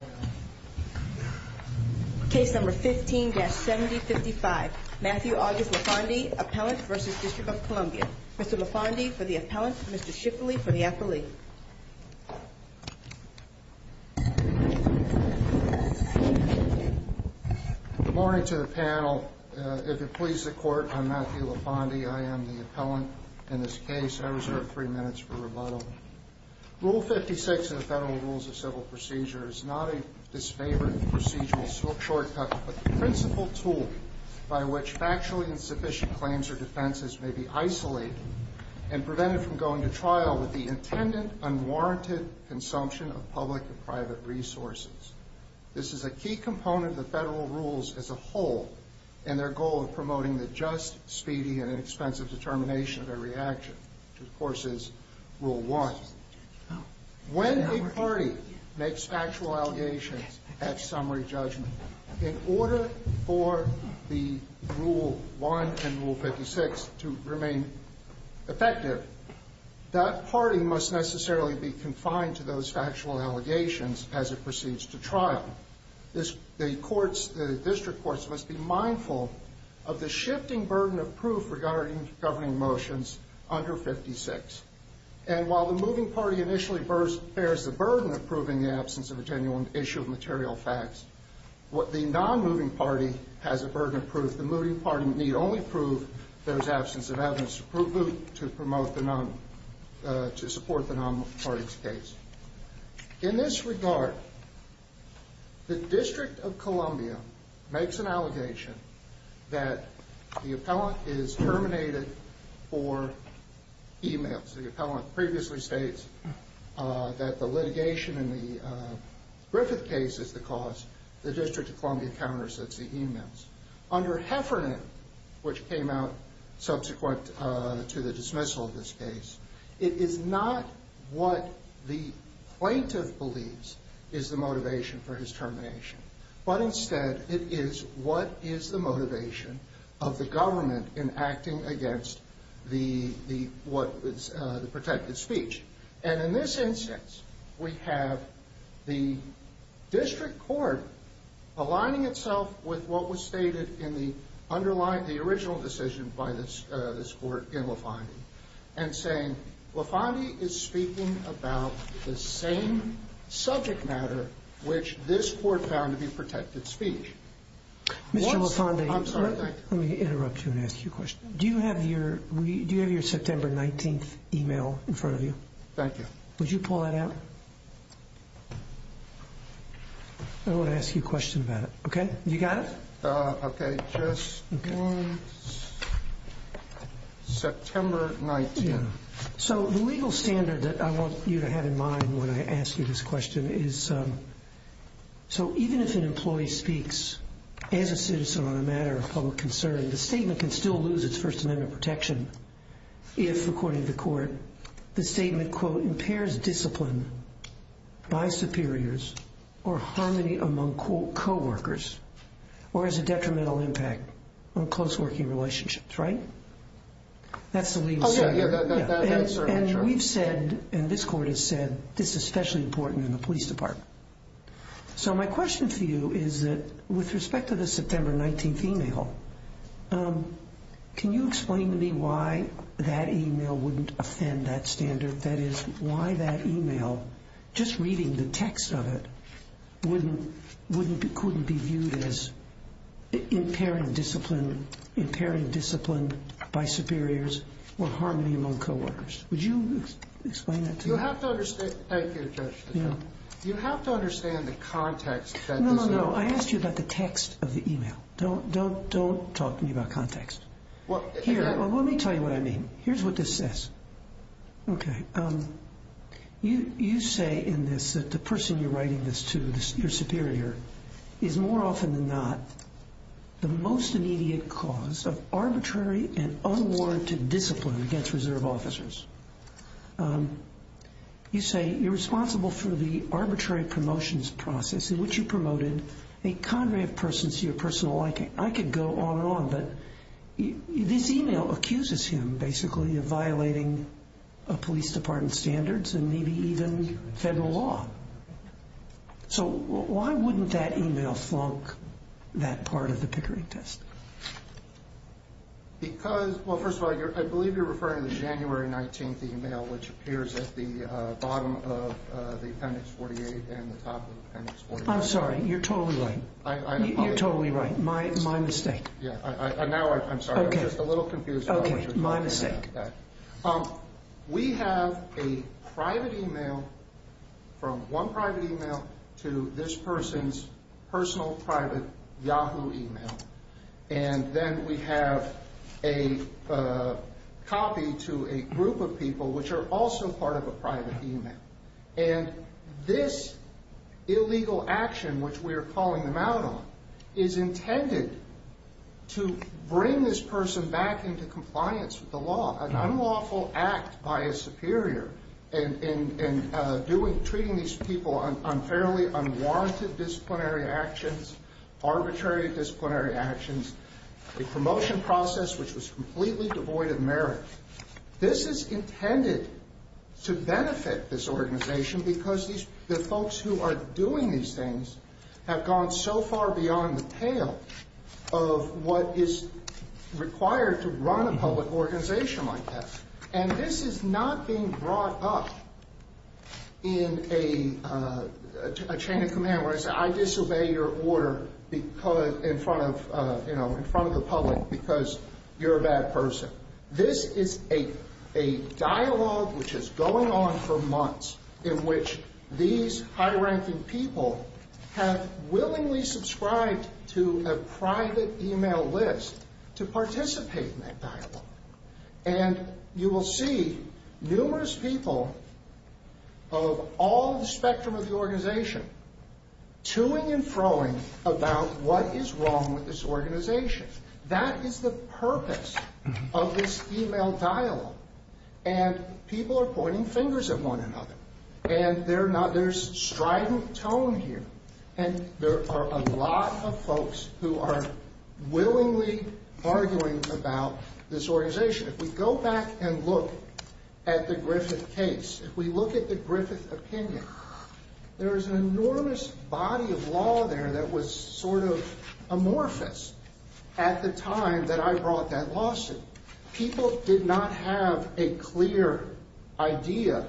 Mr. LeFande for the appellant, Mr. Schifferle for the affilee. Good morning to the panel. If it pleases the Court, I'm Matthew LeFande. I am the appellant in this case. I reserve three minutes for rebuttal. Rule 56 in the Federal Rules of Civil Procedure is not a disfavored procedural shortcut, but the principal tool by which factually insufficient claims or defenses may be isolated and prevented from going to trial with the intended, unwarranted consumption of public and private resources. This is a key component of the Federal Rules as a whole in their goal of promoting the just, speedy, and inexpensive determination of every action, which, of course, is Rule 1. When a party makes factual allegations at summary judgment, in order for the Rule 1 and Rule 56 to remain effective, that party must necessarily be confined to those factual allegations as it proceeds to trial. The District Courts must be mindful of the shifting burden of proof regarding governing motions under Rule 56. And while the moving party initially bears the burden of proving the absence of a genuine issue of material facts, the non-moving party has a burden of proof. The moving party need only prove there is absence of evidence to support the non-moving party's case. In this regard, the District of Columbia makes an allegation that the appellant is terminated for emence. The appellant previously states that the litigation in the Griffith case is the cause. The District of Columbia counters that's the emence. Under Heffernan, which came out subsequent to the dismissal of this case, it is not what the plaintiff believes is the motivation for his termination. But instead, it is what is the motivation of the government in acting against the protected speech. And in this instance, we have the district court aligning itself with what was stated in the underlying, the original decision by this court in LaFondie, and saying LaFondie is speaking about the same subject matter which this court found to be protected speech. Mr. LaFondie, let me interrupt you and ask you a question. Do you have your September 19th email in front of you? Thank you. Would you pull that out? I want to ask you a question about it, okay? You got it? Okay, just one. September 19th. So the legal standard that I want you to have in mind when I ask you this question is, so even if an employee speaks as a citizen on a matter of public concern, the statement can still lose its First Amendment protection if, according to court, the statement, quote, impairs discipline by superiors or harmony among coworkers or has a detrimental impact on close working relationships, right? That's the legal standard. And we've said, and this court has said, this is especially important in the police department. So my question for you is that with respect to the September 19th email, can you explain to me why that email wouldn't offend that standard? That is, why that email, just reading the text of it, couldn't be viewed as impairing discipline by superiors or harmony among coworkers? Would you explain that to me? Thank you, Judge. You have to understand the context. No, no, no. I asked you about the text of the email. Don't talk to me about context. Here, let me tell you what I mean. Here's what this says. Okay. You say in this that the person you're writing this to, your superior, is more often than not the most immediate cause of arbitrary and unwarranted discipline against reserve officers. You say you're responsible for the arbitrary promotions process in which you promoted a cadre of persons to your personal liking. I could go on and on, but this email accuses him basically of violating police department standards and maybe even federal law. So why wouldn't that email flunk that part of the Pickering test? Because, well, first of all, I believe you're referring to the January 19th email, which appears at the bottom of the Appendix 48 and the top of the Appendix 49. I'm sorry. You're totally right. You're totally right. My mistake. Yeah. Now I'm sorry. I'm just a little confused about what you're talking about. Okay. My mistake. We have a private email, from one private email, to this person's personal private Yahoo email. And then we have a copy to a group of people, which are also part of a private email. And this illegal action, which we are calling them out on, is intended to bring this person back into compliance with the law, an unlawful act by a superior, and treating these people on fairly unwarranted disciplinary actions, arbitrary disciplinary actions, a promotion process which was completely devoid of merit. This is intended to benefit this organization, because the folks who are doing these things have gone so far beyond the pale of what is required to run a public organization like that. And this is not being brought up in a chain of command, where I say I disobey your order in front of the public because you're a bad person. This is a dialogue which is going on for months, in which these high-ranking people have willingly subscribed to a private email list to participate in that dialogue. And you will see numerous people of all the spectrum of the organization to-ing and fro-ing about what is wrong with this organization. That is the purpose of this email dialogue. And people are pointing fingers at one another. And there's strident tone here. And there are a lot of folks who are willingly arguing about this organization. If we go back and look at the Griffith case, if we look at the Griffith opinion, there is an enormous body of law there that was sort of amorphous at the time that I brought that lawsuit. People did not have a clear idea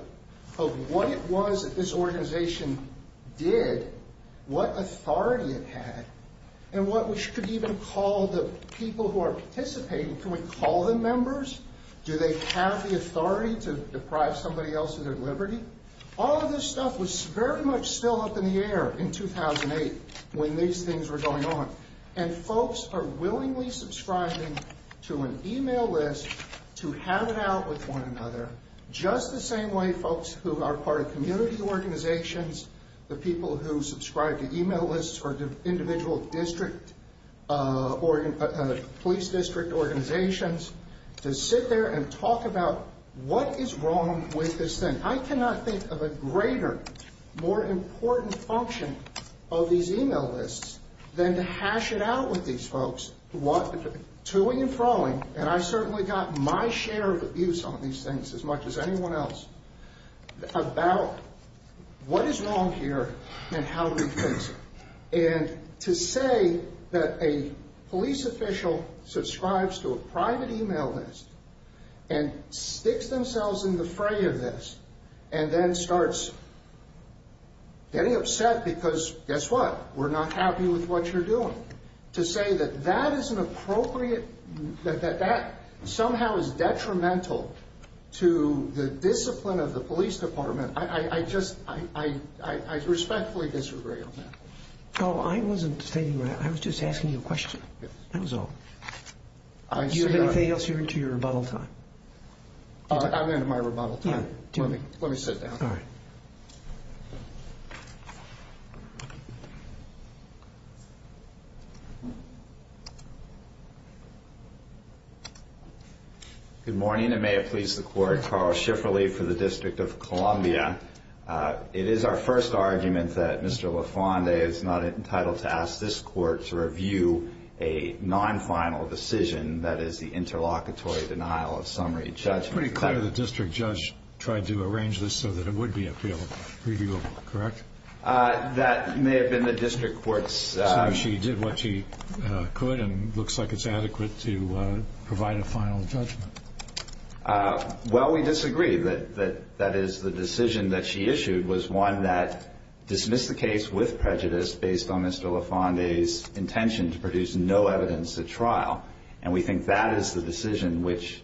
of what it was that this organization did, what authority it had, and what we should even call the people who are participating. Can we call them members? Do they have the authority to deprive somebody else of their liberty? All of this stuff was very much still up in the air in 2008 when these things were going on. And folks are willingly subscribing to an email list to have it out with one another, just the same way folks who are part of community organizations, the people who subscribe to email lists or individual police district organizations, to sit there and talk about what is wrong with this thing. I cannot think of a greater, more important function of these email lists than to hash it out with these folks, toing and froing, and I certainly got my share of abuse on these things as much as anyone else, about what is wrong here and how do we fix it. And to say that a police official subscribes to a private email list and sticks themselves in the fray of this and then starts getting upset because, guess what, we're not happy with what you're doing, to say that that is an appropriate, that that somehow is detrimental to the discipline of the police department, I just respectfully disagree on that. Oh, I wasn't stating that. I was just asking you a question. That was all. Do you have anything else? You're into your rebuttal time. I'm into my rebuttal time. Let me sit down. All right. Good morning, and may it please the Court. Carl Schifferle for the District of Columbia. It is our first argument that Mr. LaFonde is not entitled to ask this Court to review a non-final decision, that is, the interlocutory denial of summary judgment. It's pretty clear the district judge tried to arrange this so that it would be appealable, reviewable, correct? That may have been the district court's. So she did what she could and it looks like it's adequate to provide a final judgment. Well, we disagree. That is, the decision that she issued was one that dismissed the case with prejudice based on Mr. LaFonde's intention to produce no evidence at trial, and we think that is the decision which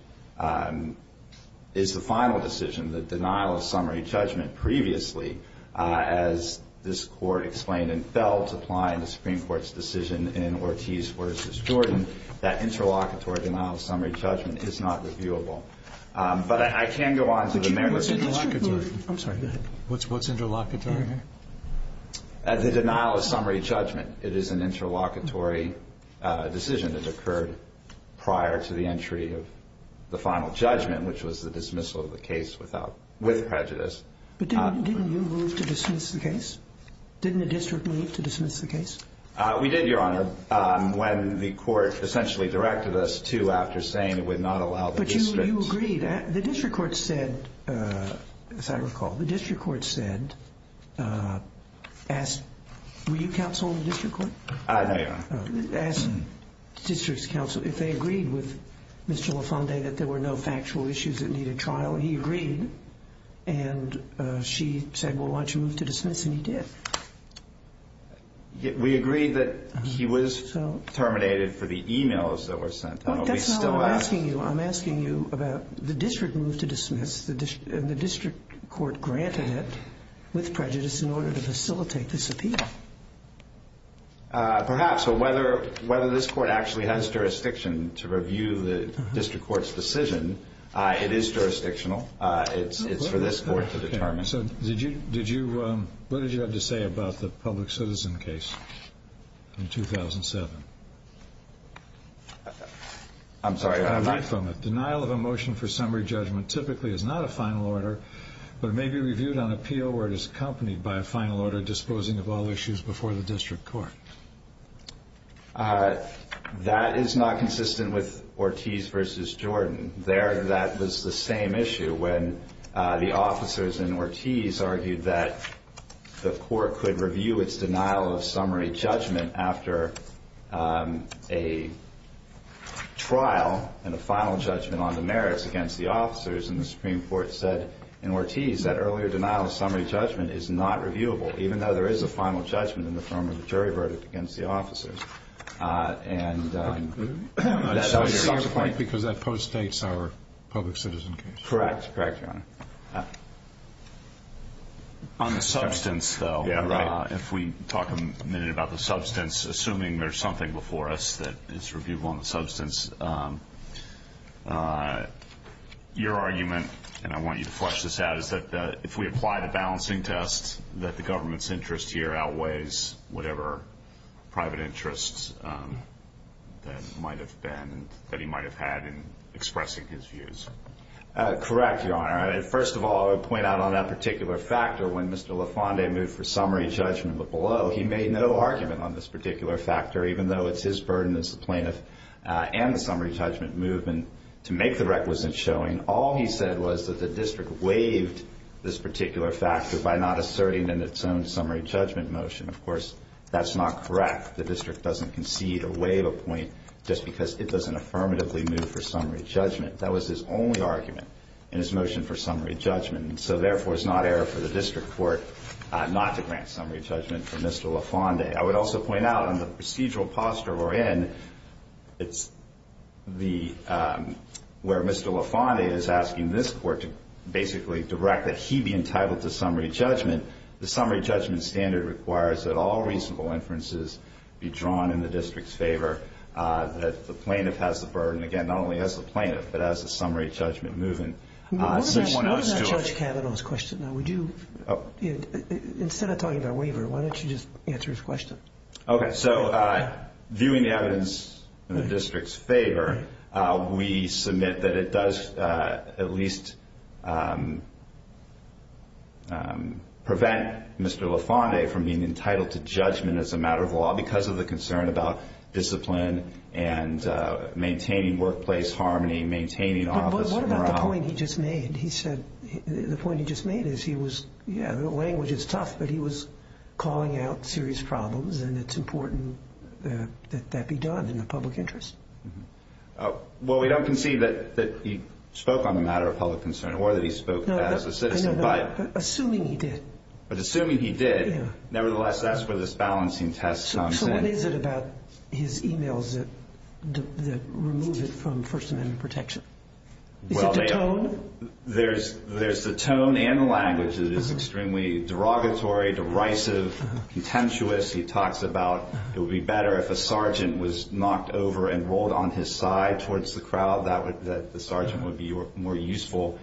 is the final decision, the denial of summary judgment. Previously, as this Court explained and felt applying the Supreme Court's decision in Ortiz v. Jordan, that interlocutory denial of summary judgment is not reviewable. But I can go on to the merits. I'm sorry, go ahead. What's interlocutory? The denial of summary judgment. It is an interlocutory decision that occurred prior to the entry of the final judgment, which was the dismissal of the case with prejudice. But didn't you move to dismiss the case? Didn't the district move to dismiss the case? We did, Your Honor. When the court essentially directed us to after saying it would not allow the district. But you agreed. The district court said, as I recall, the district court said, were you counsel in the district court? No, Your Honor. As district's counsel, if they agreed with Mr. LaFonde that there were no factual issues that needed trial, he agreed and she said, well, why don't you move to dismiss, and he did. We agreed that he was terminated for the e-mails that were sent. That's not what I'm asking you. I'm asking you about the district move to dismiss, and the district court granted it with prejudice in order to facilitate this appeal. Perhaps, but whether this court actually has jurisdiction to review the district court's decision, it is jurisdictional. It's for this court to determine. So what did you have to say about the public citizen case in 2007? I'm sorry. I read from it. Denial of a motion for summary judgment typically is not a final order, but it may be reviewed on appeal where it is accompanied by a final order disposing of all issues before the district court. That is not consistent with Ortiz v. Jordan. There that was the same issue when the officers in Ortiz argued that the court could review its denial of summary judgment after a trial and a final judgment on the merits against the officers, and the Supreme Court said in Ortiz that earlier denial of summary judgment is not reviewable, even though there is a final judgment in the form of a jury verdict against the officers. And that was your point? Because that post-states our public citizen case. Correct. Correct, Your Honor. On the substance, though, if we talk a minute about the substance, assuming there's something before us that is reviewable on the substance, your argument, and I want you to flesh this out, is that if we apply the balancing test that the government's interest here outweighs whatever private interests that might have been, that he might have had in expressing his views. Correct, Your Honor. First of all, I would point out on that particular factor when Mr. LaFonde moved for summary judgment, but below he made no argument on this particular factor, even though it's his burden as the plaintiff and the summary judgment movement to make the requisite showing. And all he said was that the district waived this particular factor by not asserting in its own summary judgment motion. Of course, that's not correct. The district doesn't concede or waive a point just because it doesn't affirmatively move for summary judgment. That was his only argument in his motion for summary judgment. And so, therefore, it's not error for the district court not to grant summary judgment for Mr. LaFonde. I would also point out on the procedural posture we're in, it's where Mr. LaFonde is asking this court to basically direct that he be entitled to summary judgment. The summary judgment standard requires that all reasonable inferences be drawn in the district's favor, that the plaintiff has the burden, again, not only as the plaintiff, but as the summary judgment movement. What about Judge Kavanaugh's question? Instead of talking about waiver, why don't you just answer his question? Okay. So, viewing the evidence in the district's favor, we submit that it does at least prevent Mr. LaFonde from being entitled to judgment as a matter of law because of the concern about discipline and maintaining workplace harmony, maintaining officer morale. What about the point he just made? He said the point he just made is he was, yeah, the language is tough, but he was calling out serious problems, and it's important that that be done in the public interest. Well, we don't concede that he spoke on the matter of public concern or that he spoke as a citizen. No, no, no. Assuming he did. But assuming he did, nevertheless, that's where this balancing test comes in. So what is it about his e-mails that remove it from First Amendment protection? Is it the tone? There's the tone and the language that is extremely derogatory, derisive, contemptuous. He talks about it would be better if a sergeant was knocked over and rolled on his side towards the crowd, that the sergeant would be more useful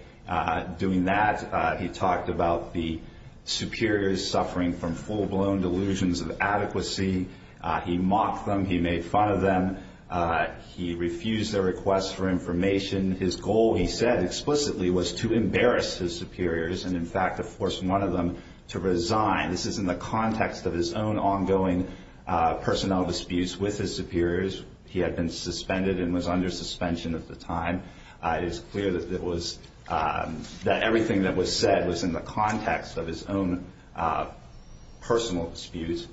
doing that. He talked about the superiors suffering from full-blown delusions of adequacy. He mocked them. He made fun of them. He refused their requests for information. His goal, he said explicitly, was to embarrass his superiors and, in fact, to force one of them to resign. This is in the context of his own ongoing personnel disputes with his superiors. He had been suspended and was under suspension at the time. It is clear that everything that was said was in the context of his own personal disputes.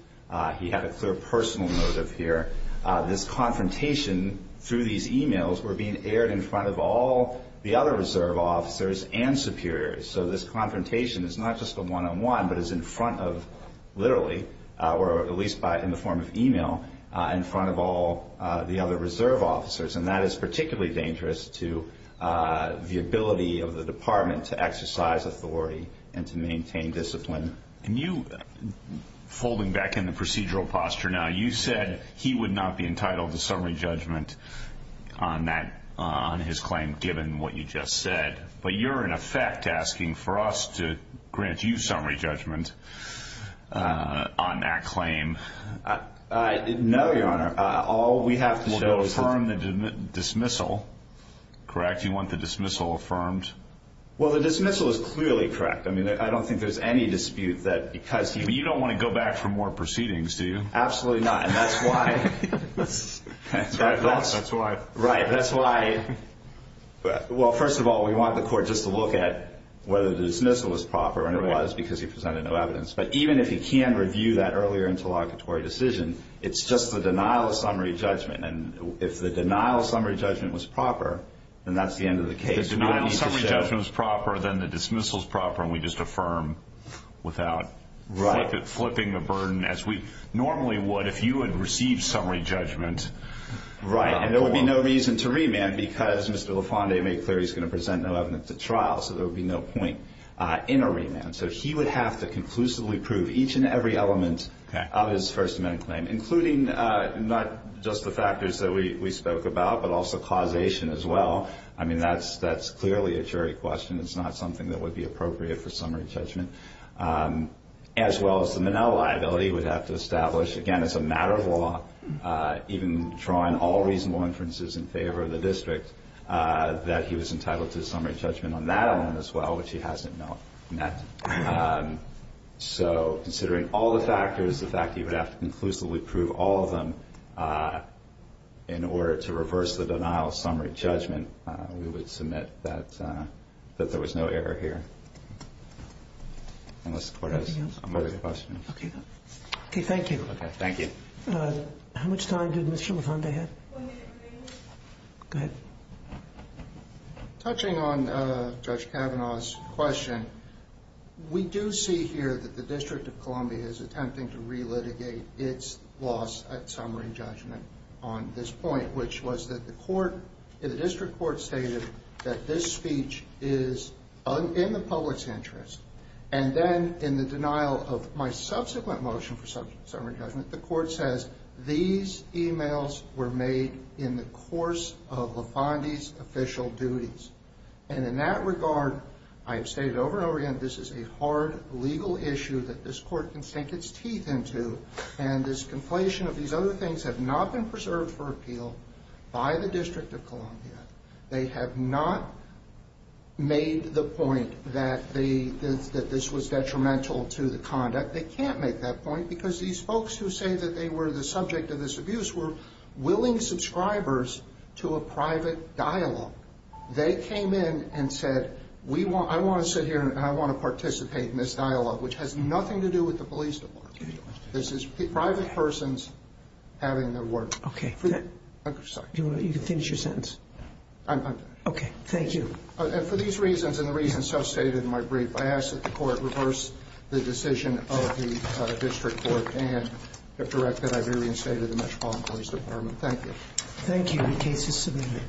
He had a clear personal motive here. This confrontation through these e-mails were being aired in front of all the other reserve officers and superiors. So this confrontation is not just a one-on-one, but is in front of, literally, or at least in the form of e-mail, in front of all the other reserve officers. And that is particularly dangerous to the ability of the department to exercise authority and to maintain discipline. And you, folding back in the procedural posture now, you said he would not be entitled to summary judgment on that, on his claim, given what you just said. But you're, in effect, asking for us to grant you summary judgment on that claim. No, Your Honor. All we have to show is that- We'll go affirm the dismissal. Correct? You want the dismissal affirmed? Well, the dismissal is clearly correct. I mean, I don't think there's any dispute that because he- But you don't want to go back for more proceedings, do you? Absolutely not. And that's why- That's why. Right. That's why. Well, first of all, we want the court just to look at whether the dismissal was proper, and it was because he presented no evidence. But even if he can review that earlier interlocutory decision, it's just the denial of summary judgment. And if the denial of summary judgment was proper, then that's the end of the case. If the denial of summary judgment was proper, then the dismissal is proper, and we just affirm without- Right. Flipping the burden as we normally would if you had received summary judgment. Right. And there would be no reason to remand because Mr. LaFonde made clear he's going to present no evidence at trial, so there would be no point in a remand. So he would have to conclusively prove each and every element of his First Amendment claim, including not just the factors that we spoke about, but also causation as well. I mean, that's clearly a jury question. It's not something that would be appropriate for summary judgment. As well as the Minnell liability would have to establish, again, as a matter of law, even drawing all reasonable inferences in favor of the district, that he was entitled to summary judgment on that element as well, which he hasn't met. So considering all the factors, the fact that he would have to conclusively prove all of them in order to reverse the denial of summary judgment, we would submit that there was no error here. Unless the Court has another question. Okay. Okay. Thank you. Okay. Thank you. How much time did Ms. Shimabukuro have? Go ahead. Touching on Judge Kavanaugh's question, we do see here that the District of Columbia is attempting to relitigate its loss at summary judgment on this point, which was that the District Court stated that this speech is in the public's interest. And then in the denial of my subsequent motion for summary judgment, the Court says these emails were made in the course of LaFondie's official duties. And in that regard, I have stated over and over again, this is a hard legal issue that this Court can sink its teeth into. And this conflation of these other things have not been preserved for appeal by the District of Columbia. They have not made the point that this was detrimental to the conduct. They can't make that point because these folks who say that they were the subject of this abuse were willing subscribers to a private dialogue. They came in and said, I want to sit here and I want to participate in this dialogue, which has nothing to do with the police department. This is private persons having their word. Okay. I'm sorry. You can finish your sentence. I'm done. Okay. Thank you. And for these reasons and the reasons substated in my brief, I ask that the Court reverse the decision of the District Court and direct the Iberian State to the Metropolitan Police Department. Thank you. Thank you. The case is submitted.